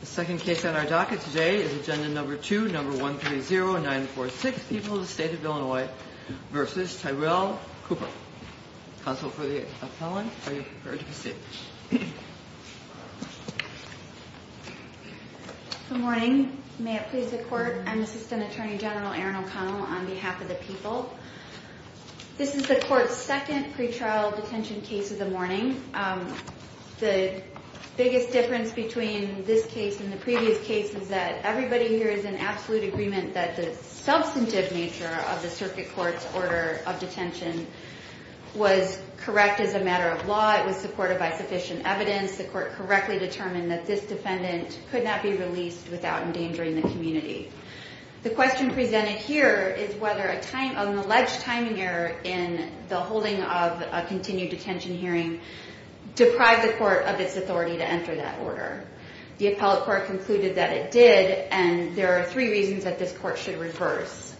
The second case on our docket today is Agenda No. 2, No. 130946, People of the State of Illinois v. Tyrell Cooper. Counsel for the appellant, are you prepared to proceed? Good morning. May it please the Court, I'm Assistant Attorney General Erin O'Connell on behalf of the people. This is the Court's second pretrial detention case of the morning. The biggest difference between this case and the previous case is that everybody here is in absolute agreement that the substantive nature of the Circuit Court's order of detention was correct as a matter of law. It was supported by sufficient evidence. The Court correctly determined that this defendant could not be released without endangering the community. The question presented here is whether an alleged timing error in the holding of a continued detention hearing deprived the Court of its authority to enter that order. The appellate Court concluded that it did, and there are three reasons that this Court should reverse.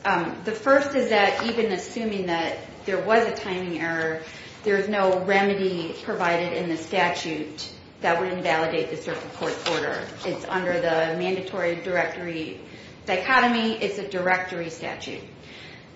The first is that even assuming that there was a timing error, there is no remedy provided in the statute that would invalidate the Circuit Court's order. It's under the mandatory directory dichotomy. It's a directory statute.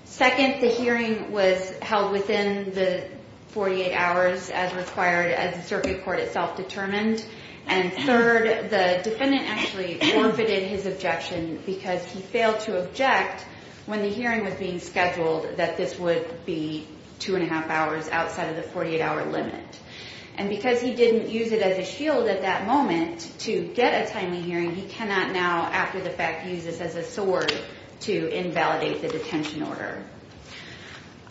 Second, the hearing was held within the 48 hours as required as the Circuit Court itself determined. And third, the defendant actually forfeited his objection because he failed to object when the hearing was being scheduled that this would be two and a half hours outside of the 48-hour limit. And because he didn't use it as a shield at that moment to get a timely hearing, he cannot now, after the fact, use this as a sword to invalidate the detention order.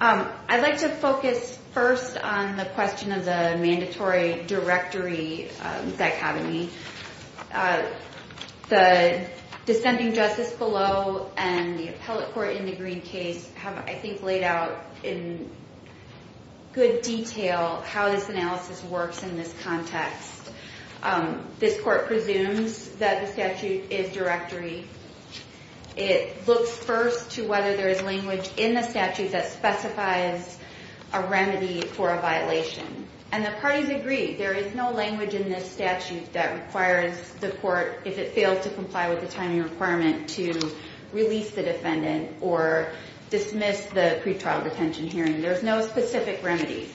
I'd like to focus first on the question of the mandatory directory dichotomy. The descending justice below and the appellate Court in the Green case have, I think, laid out in good detail how this analysis works in this context. This Court presumes that the statute is directory. It looks first to whether there is language in the statute that specifies a remedy for a violation. And the parties agree there is no language in this statute that requires the Court, if it fails to comply with the timing requirement, to release the defendant or dismiss the pretrial detention hearing. There's no specific remedy.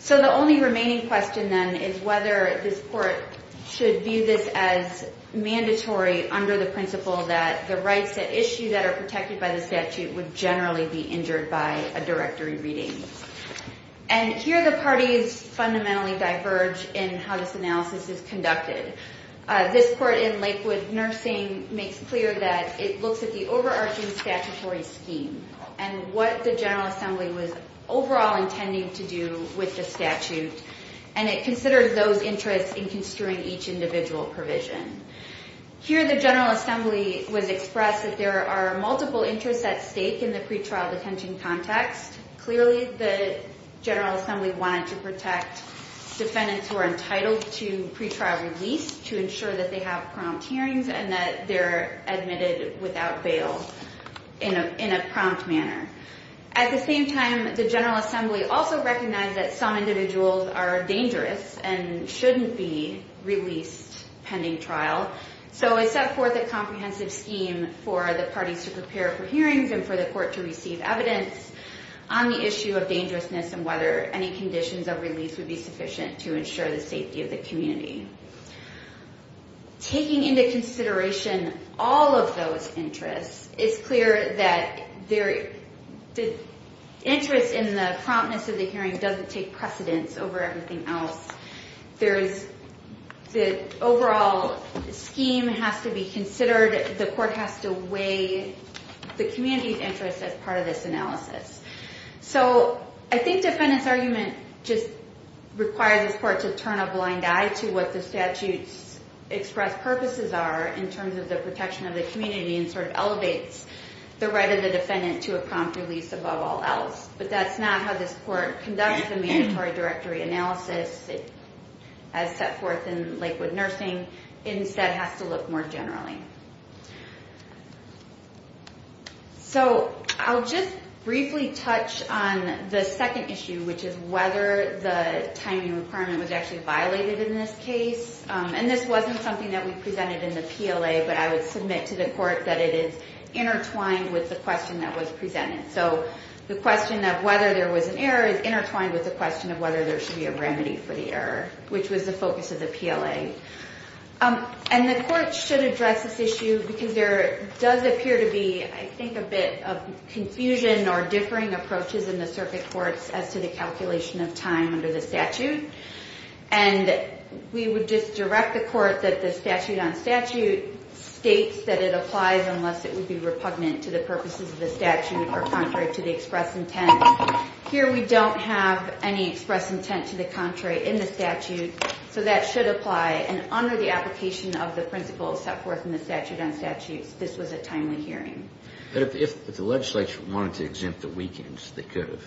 So the only remaining question then is whether this Court should view this as mandatory under the principle that the rights at issue that are protected by the statute would generally be injured by a directory reading. And here the parties fundamentally diverge in how this analysis is conducted. This Court in Lakewood Nursing makes clear that it looks at the overarching statutory scheme and what the General Assembly was overall intending to do with the statute, and it considers those interests in construing each individual provision. Here the General Assembly would express that there are multiple interests at stake in the pretrial detention context. Clearly the General Assembly wanted to protect defendants who are entitled to pretrial release to ensure that they have prompt hearings and that they're admitted without bail in a prompt manner. At the same time, the General Assembly also recognized that some individuals are dangerous and shouldn't be released pending trial. So it set forth a comprehensive scheme for the parties to prepare for hearings and for the Court to receive evidence on the issue of dangerousness and whether any conditions of release would be sufficient to ensure the safety of the community. Taking into consideration all of those interests, it's clear that the interest in the promptness of the hearing doesn't take precedence over everything else. The overall scheme has to be considered. The Court has to weigh the community's interest as part of this analysis. So I think defendants' argument just requires the Court to turn a blind eye to what the statute's expressed purposes are in terms of the protection of the community and sort of elevates the right of the defendant to a prompt release above all else. But that's not how this Court conducts the mandatory directory analysis as set forth in Lakewood Nursing. It instead has to look more generally. So I'll just briefly touch on the second issue, which is whether the timing requirement was actually violated in this case. And this wasn't something that we presented in the PLA, but I would submit to the Court that it is intertwined with the question that was presented. So the question of whether there was an error is intertwined with the question of whether there should be a remedy for the error, which was the focus of the PLA. And the Court should address this issue because there does appear to be, I think, a bit of confusion or differing approaches in the circuit courts as to the calculation of time under the statute. And we would just direct the Court that the statute on statute states that it applies unless it would be repugnant to the purposes of the statute or contrary to the express intent. Here we don't have any express intent to the contrary in the statute, so that should apply and under the application of the principles set forth in the statute on statutes, this was a timely hearing. But if the legislature wanted to exempt the weekends, they could have?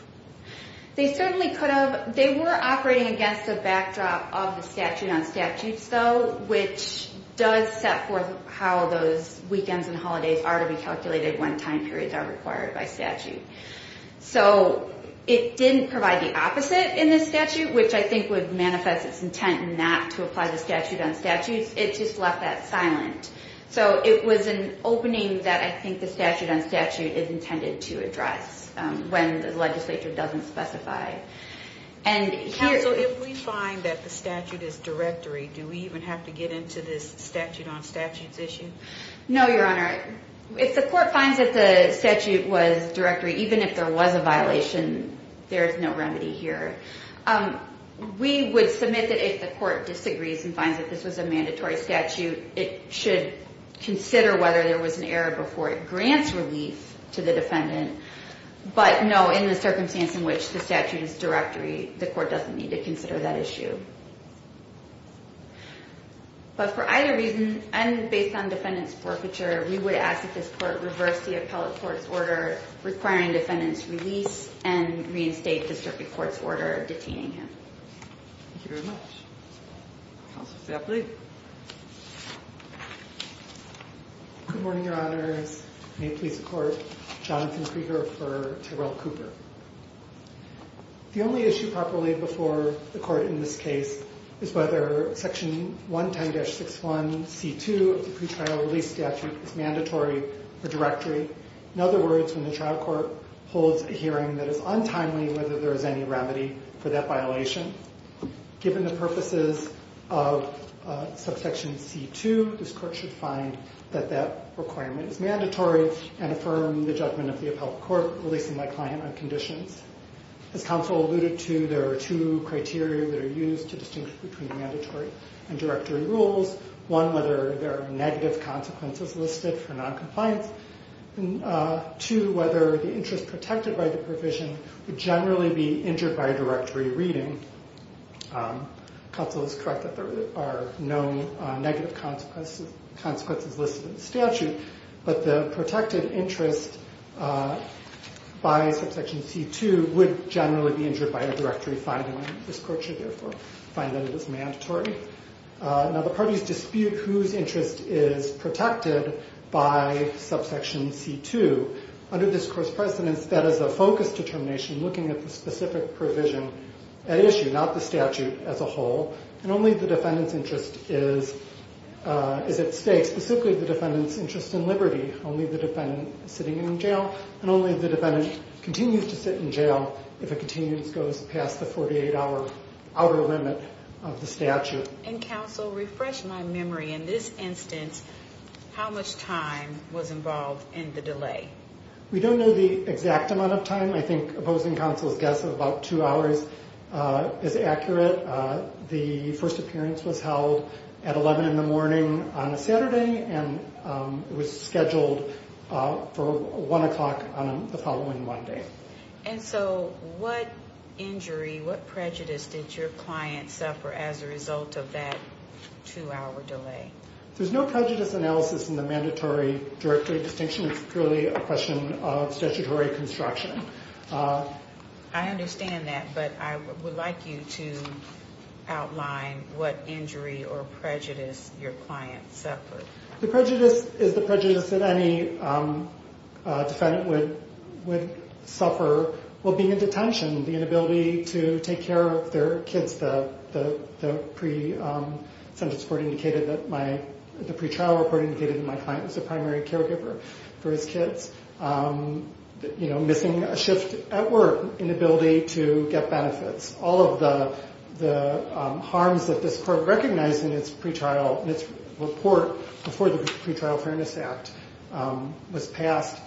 They certainly could have. They were operating against the backdrop of the statute on statutes, though, which does set forth how those weekends and holidays are to be calculated when time periods are required by statute. So it didn't provide the opposite in this statute, which I think would manifest its intent not to apply the statute on statutes. It just left that silent. So it was an opening that I think the statute on statute is intended to address when the legislature doesn't specify. Counsel, if we find that the statute is directory, do we even have to get into this statute on statutes issue? No, Your Honor. If the court finds that the statute was directory, even if there was a violation, there is no remedy here. We would submit that if the court disagrees and finds that this was a mandatory statute, it should consider whether there was an error before it grants relief to the defendant. But no, in the circumstance in which the statute is directory, the court doesn't need to consider that issue. But for either reason, and based on defendant's forfeiture, we would ask that this court reverse the appellate court's order requiring defendant's release and reinstate the circuit court's order detaining him. Thank you very much. Counsel, if they'll please. Good morning, Your Honors. May it please the court, Jonathan Krieger for Tyrell Cooper. The only issue properly before the court in this case is whether section 110-61c2 of the pretrial release statute is mandatory or directory. In other words, when the trial court holds a hearing that is untimely, whether there is any remedy for that violation. Given the purposes of subsection c2, this court should find that that requirement is mandatory and affirm the judgment of the appellate court releasing my client on conditions. As counsel alluded to, there are two criteria that are used to distinguish between mandatory and directory rules. One, whether there are negative consequences listed for non-compliance. Two, whether the interest protected by the provision would generally be injured by directory reading. Counsel is correct that there are no negative consequences listed in the statute, but the protected interest by subsection c2 would generally be injured by a directory finding. This court should therefore find that it is mandatory. Now the parties dispute whose interest is protected by subsection c2. Under this Court's precedence, that is a focus determination looking at the specific provision at issue, not the statute as a whole, and only the defendant's interest is at stake. Specifically, the defendant's interest in liberty. Only the defendant sitting in jail and only the defendant continues to sit in jail if a continuance goes past the 48-hour limit of the statute. And counsel, refresh my memory in this instance, how much time was involved in the delay? We don't know the exact amount of time. I think opposing counsel's guess of about two hours is accurate. The first appearance was held at 11 in the morning on a Saturday and was scheduled for 1 o'clock on the following Monday. And so what injury, what prejudice did your client suffer as a result of that two-hour delay? There's no prejudice analysis in the mandatory directory distinction. It's purely a question of statutory construction. I understand that, but I would like you to outline what injury or prejudice your client suffered. The prejudice is the prejudice that any defendant would suffer while being in detention. The inability to take care of their kids. The pre-trial report indicated that my client was a primary caregiver for his kids. Missing a shift at work. Inability to get benefits. All of the harms that this court recognized in its pre-trial report before the Pre-Trial Fairness Act was passed.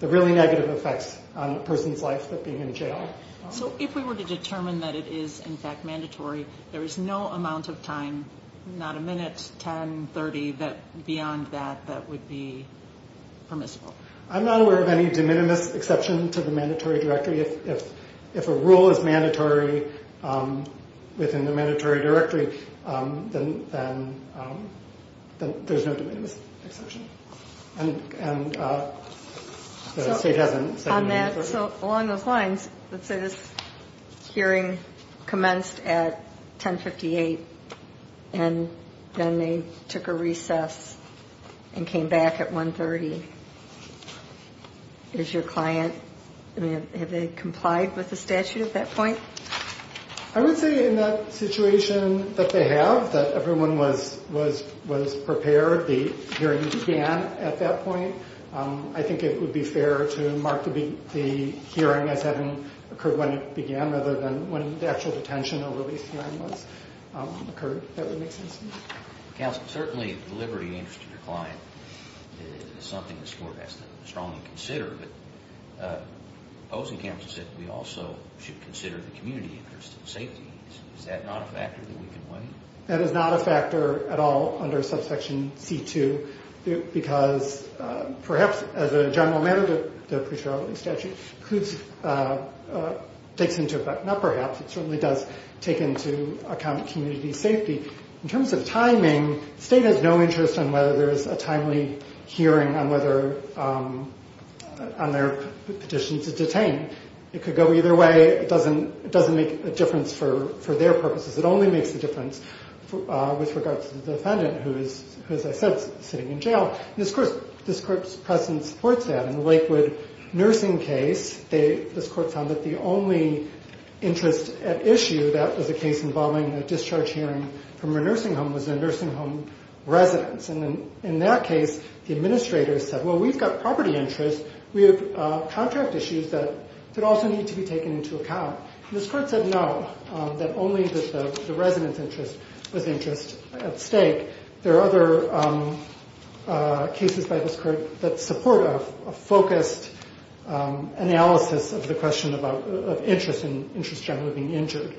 The really negative effects on a person's life of being in jail. So if we were to determine that it is in fact mandatory, there is no amount of time, not a minute, 10, 30, beyond that, that would be permissible. I'm not aware of any de minimis exception to the mandatory directory. If a rule is mandatory within the mandatory directory, then there's no de minimis exception. So along those lines, let's say this hearing commenced at 10.58 and then they took a recess and came back at 1.30. Is your client, have they complied with the statute at that point? I would say in that situation that they have, that everyone was prepared. The hearing began at that point. I think it would be fair to mark the hearing as having occurred when it began rather than when the actual detention or release hearing occurred. That would make sense to me. Counsel, certainly the liberty and interest of your client is something this court has to strongly consider. But Ozenkamp said we also should consider the community interest and safety needs. Is that not a factor that we can weigh? That is not a factor at all under subsection C2 because perhaps as a general matter, the pre-trial release statute includes, takes into, not perhaps, it certainly does take into account community safety. In terms of timing, the state has no interest on whether there is a timely hearing on whether, on their petition to detain. It could go either way. It doesn't make a difference for their purposes. It only makes a difference with regards to the defendant who is, as I said, sitting in jail. This court's presence supports that. In the Lakewood nursing case, this court found that the only interest at issue, that was a case involving a discharge hearing from a nursing home, was a nursing home residence. And in that case, the administrator said, well, we've got property interest. We have contract issues that also need to be taken into account. This court said no, that only the residence interest was interest at stake. There are other cases by this court that support a focused analysis of the question of interest and interest generally being injured.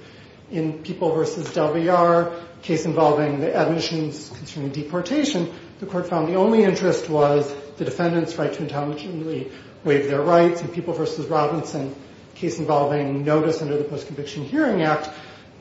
In People v. Delvear, a case involving the admissions concerning deportation, the court found the only interest was the defendant's right to intelligently waive their rights. In People v. Robinson, a case involving notice under the Post-Conviction Hearing Act,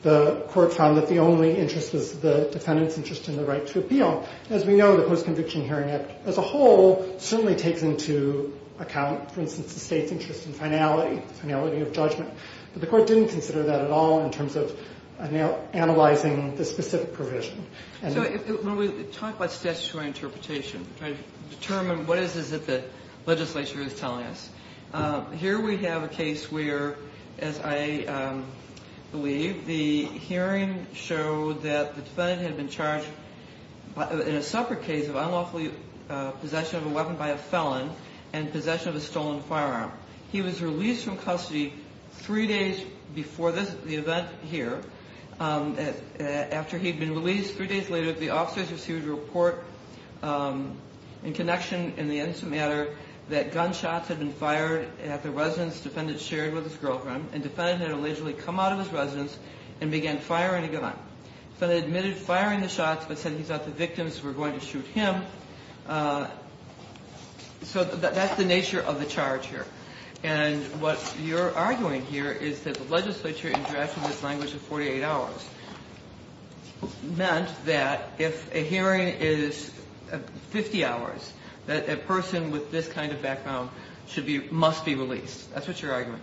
the court found that the only interest was the defendant's interest in the right to appeal. As we know, the Post-Conviction Hearing Act as a whole certainly takes into account, for instance, the state's interest in finality, finality of judgment. But the court didn't consider that at all in terms of analyzing the specific provision. So when we talk about statutory interpretation to determine what it is that the legislature is telling us, here we have a case where, as I believe, the hearing showed that the defendant had been charged in a separate case of unlawfully possession of a weapon by a felon and possession of a stolen firearm. He was released from custody three days before the event here. After he had been released, three days later, the officers received a report in connection in the instant matter that gunshots had been fired at the residence the defendant shared with his girlfriend, and the defendant had allegedly come out of his residence and began firing a gun. The felon admitted firing the shots but said he thought the victims were going to shoot him. So that's the nature of the charge here. And what you're arguing here is that the legislature, in drafting this language of 48 hours, meant that if a hearing is 50 hours, that a person with this kind of background should be or must be released. That's what your argument?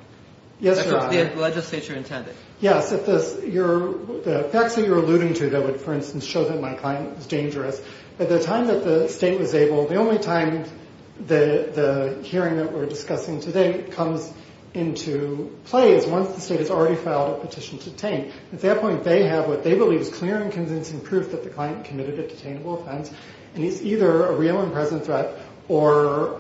That's what the legislature intended. Yes. The facts that you're alluding to that would, for instance, show that my client was dangerous, at the time that the state was able, the only time the hearing that we're discussing today comes into play is once the state has already filed a petition to detain. At that point, they have what they believe is clear and convincing proof that the client committed a detainable offense, and he's either a real and present threat or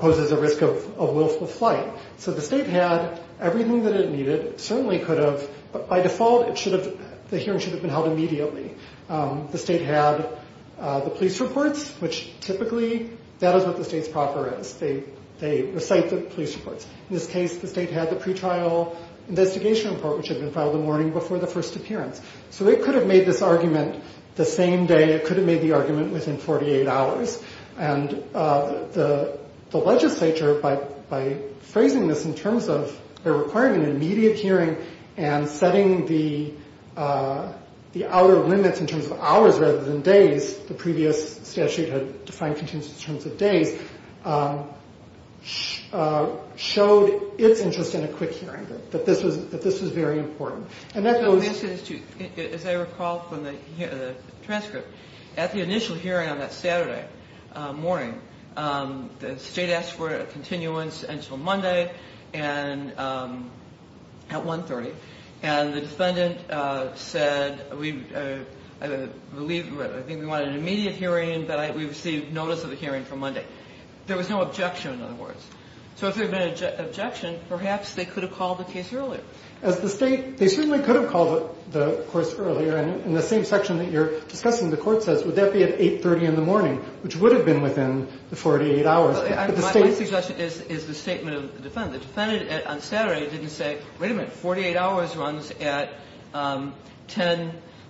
poses a risk of willful flight. So the state had everything that it needed. It certainly could have, but by default, the hearing should have been held immediately. The state had the police reports, which typically that is what the state's proper is. They recite the police reports. In this case, the state had the pretrial investigation report, which had been filed the morning before the first appearance. So it could have made this argument the same day. It could have made the argument within 48 hours. And the legislature, by phrasing this in terms of they're requiring an immediate hearing and setting the hour limits in terms of hours rather than days, the previous statute had defined continuance in terms of days, showed its interest in a quick hearing, that this was very important. And that goes... As I recall from the transcript, at the initial hearing on that Saturday morning, the state asked for a continuance until Monday at 1.30. And the defendant said, I believe, I think we wanted an immediate hearing, but we received notice of the hearing for Monday. There was no objection, in other words. So if there had been an objection, perhaps they could have called the case earlier. As the state, they certainly could have called the course earlier. And in the same section that you're discussing, the court says, would that be at 8.30 in the morning, which would have been within the 48 hours. But the state... My suggestion is the statement of the defendant. The defendant on Saturday didn't say, wait a minute, 48 hours runs at 10,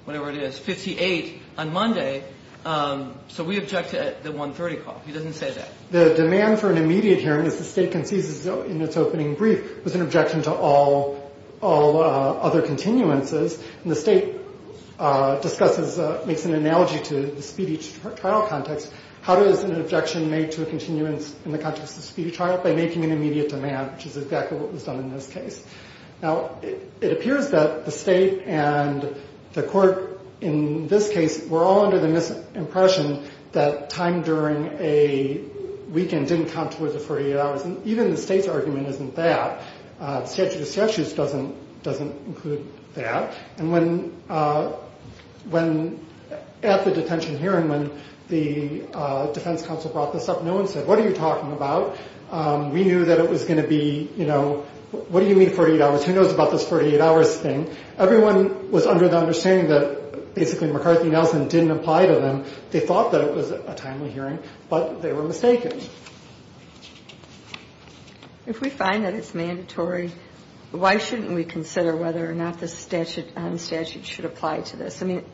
whatever it is, 58 on Monday. So we object to the 1.30 call. He doesn't say that. The demand for an immediate hearing, as the state concedes in its opening brief, was an objection to all other continuances. And the state discusses, makes an analogy to the speedy trial context. How does an objection made to a continuance in the context of speedy trial? By making an immediate demand, which is exactly what was done in this case. Now, it appears that the state and the court in this case were all under the impression that time during a weekend didn't count towards the 48 hours. And even the state's argument isn't that. The statute of statutes doesn't include that. And when at the detention hearing, when the defense counsel brought this up, no one said, what are you talking about? We knew that it was going to be, you know, what do you mean 48 hours? Who knows about this 48 hours thing? Everyone was under the understanding that basically McCarthy and Nelson didn't apply to them. They thought that it was a timely hearing, but they were mistaken. If we find that it's mandatory, why shouldn't we consider whether or not the statute should apply to this? I mean,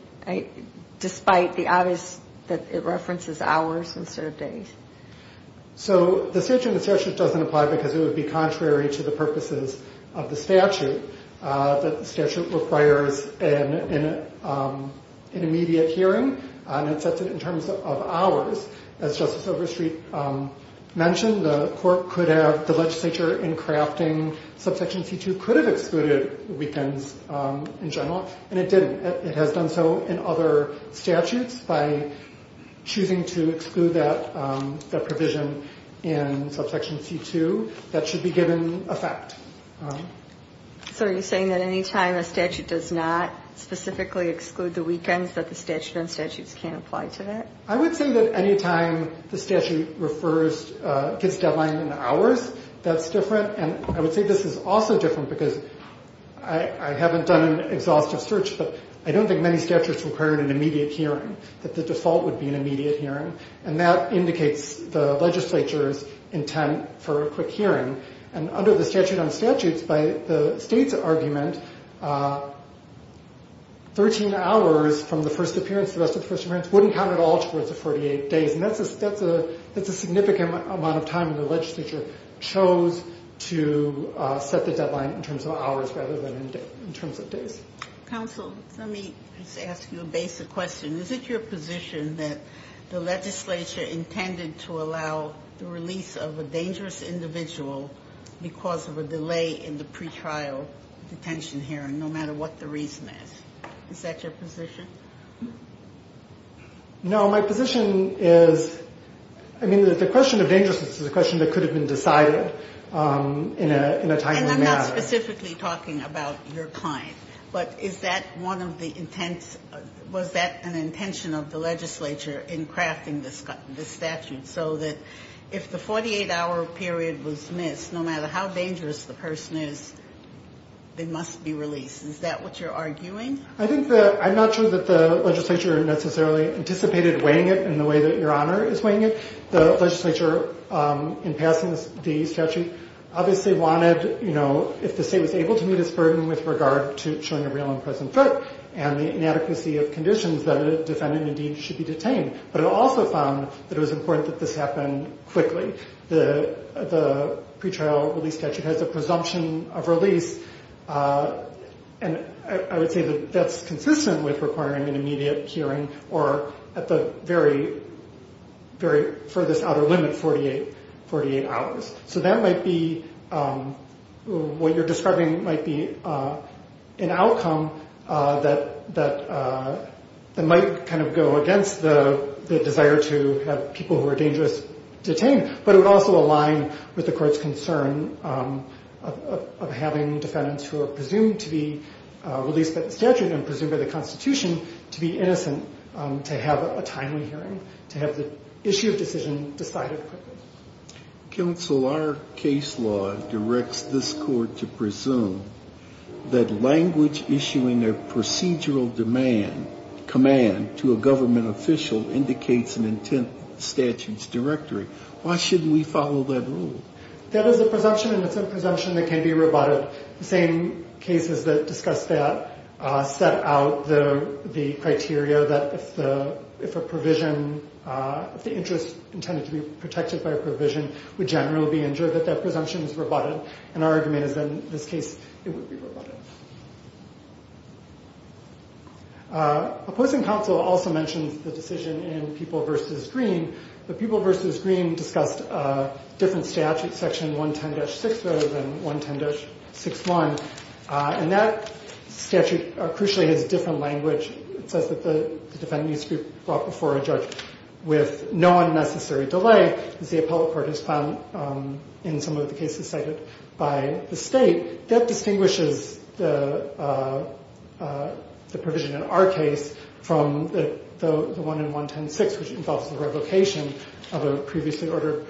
despite the obvious that it references hours instead of days. So the statute of statutes doesn't apply because it would be contrary to the purposes of the statute. The statute requires an immediate hearing. And it sets it in terms of hours. As Justice Overstreet mentioned, the court could have, the legislature in crafting subsection C2 could have excluded weekends in general, and it didn't. It has done so in other statutes by choosing to exclude that provision in subsection C2. That should be given effect. So are you saying that any time a statute does not specifically exclude the weekends that the statute on statutes can't apply to that? I would say that any time the statute refers, gives deadline in hours, that's different. And I would say this is also different because I haven't done an exhaustive search, but I don't think many statutes require an immediate hearing, that the default would be an immediate hearing. And that indicates the legislature's intent for a quick hearing. And under the statute on statutes, by the state's argument, 13 hours from the first appearance, the rest of the first appearance, wouldn't count at all towards the 48 days. And that's a significant amount of time the legislature chose to set the deadline in terms of hours rather than in terms of days. Counsel, let me ask you a basic question. Is it your position that the legislature intended to allow the release of a dangerous individual because of a delay in the pretrial detention hearing, no matter what the reason is? Is that your position? My position is, I mean, the question of dangerousness is a question that could have been decided in a timely manner. And I'm not specifically talking about your client. But is that one of the intents? Was that an intention of the legislature in crafting this statute so that if the 48-hour period was missed, no matter how dangerous the person is, they must be released? Is that what you're arguing? I'm not sure that the legislature necessarily anticipated weighing it in the way that Your Honor is weighing it. The legislature, in passing the statute, obviously wanted, you know, if the state was able to meet its burden with regard to showing a real and present threat and the inadequacy of conditions, that a defendant indeed should be detained. But it also found that it was important that this happen quickly. The pretrial release statute has a presumption of release. And I would say that that's consistent with requiring an immediate hearing or at the very, very furthest outer limit, 48 hours. So that might be what you're describing might be an outcome that might kind of go against the desire to have people who are dangerous detained. But it would also align with the court's concern of having defendants who are presumed to be released by the statute and presumed by the Constitution to be innocent to have a timely hearing, to have the issue of decision decided quickly. Counsel, our case law directs this court to presume that language issuing a procedural command to a government official indicates an intent statutes directory. Why shouldn't we follow that rule? That is a presumption and it's a presumption that can be rebutted. The same cases that discuss that set out the criteria that if a provision, if the interest intended to be protected by a provision would generally be injured, that that presumption is rebutted. And our argument is that in this case, it would be rebutted. Opposing counsel also mentions the decision in People v. Green. The People v. Green discussed a different statute, section 110-6 rather than 110-61. And that statute crucially has a different language. It says that the defendant needs to be brought before a judge with no unnecessary delay, as the appellate court has found in some of the cases cited by the state. That distinguishes the provision in our case from the one in 110-6, which involves the revocation of a previously ordered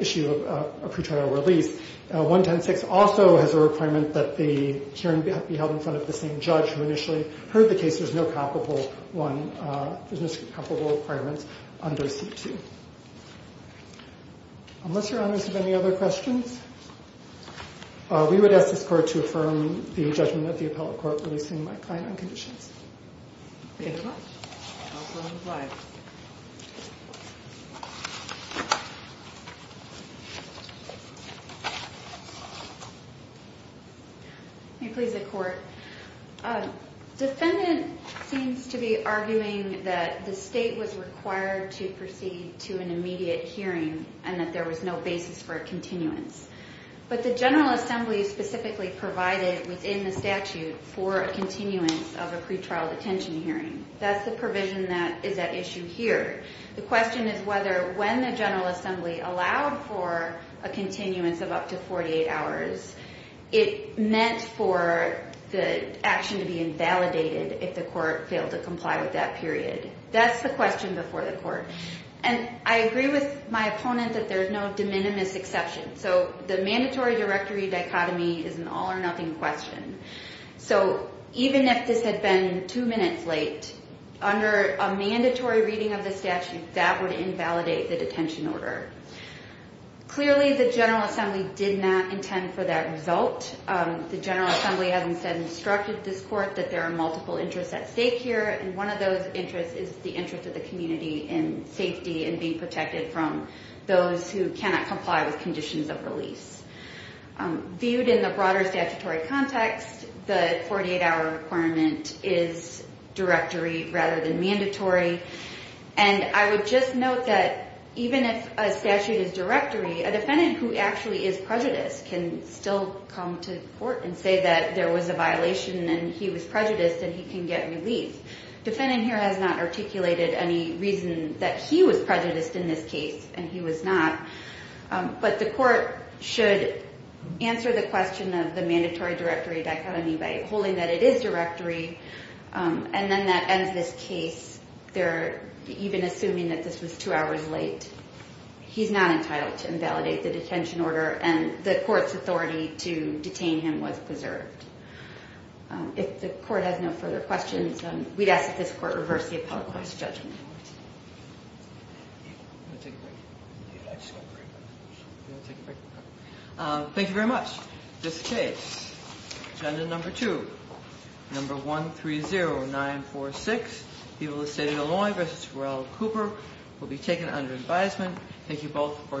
issue of a pretrial release. 110-6 also has a requirement that the hearing be held in front of the same judge who initially heard the case. There's no comparable one, there's no comparable requirements under C2. Unless your honors have any other questions, we would ask this court to affirm the judgment of the appellate court, releasing my client on conditions. Thank you very much. I'll turn the slides. May it please the court. Defendant seems to be arguing that the state was required to proceed to an immediate hearing and that there was no basis for a continuance. But the General Assembly specifically provided within the statute for a continuance of a pretrial detention hearing. That's the provision that is at issue here. The question is whether when the General Assembly allowed for a continuance of up to 48 hours, it meant for the action to be invalidated if the court failed to comply with that period. That's the question before the court. And I agree with my opponent that there's no de minimis exception. So the mandatory directory dichotomy is an all-or-nothing question. So even if this had been two minutes late, under a mandatory reading of the statute, that would invalidate the detention order. Clearly, the General Assembly did not intend for that result. The General Assembly has instead instructed this court that there are multiple interests at stake here, and one of those interests is the interest of the community in safety and being protected from those who cannot comply with conditions of release. Viewed in the broader statutory context, the 48-hour requirement is directory rather than mandatory. And I would just note that even if a statute is directory, a defendant who actually is prejudiced can still come to court and say that there was a violation and he was prejudiced and he can get relief. The defendant here has not articulated any reason that he was prejudiced in this case, and he was not. But the court should answer the question of the mandatory directory dichotomy by holding that it is directory, and then that ends this case, even assuming that this was two hours late. He's not entitled to invalidate the detention order, and the court's authority to detain him was preserved. If the court has no further questions, we'd ask that this court reverse the appellate court's judgment. Thank you very much. This case, agenda number two, number 130946, people of the state of Illinois v. Pharrell Cooper, will be taken under advisement. Thank you both for your arguments.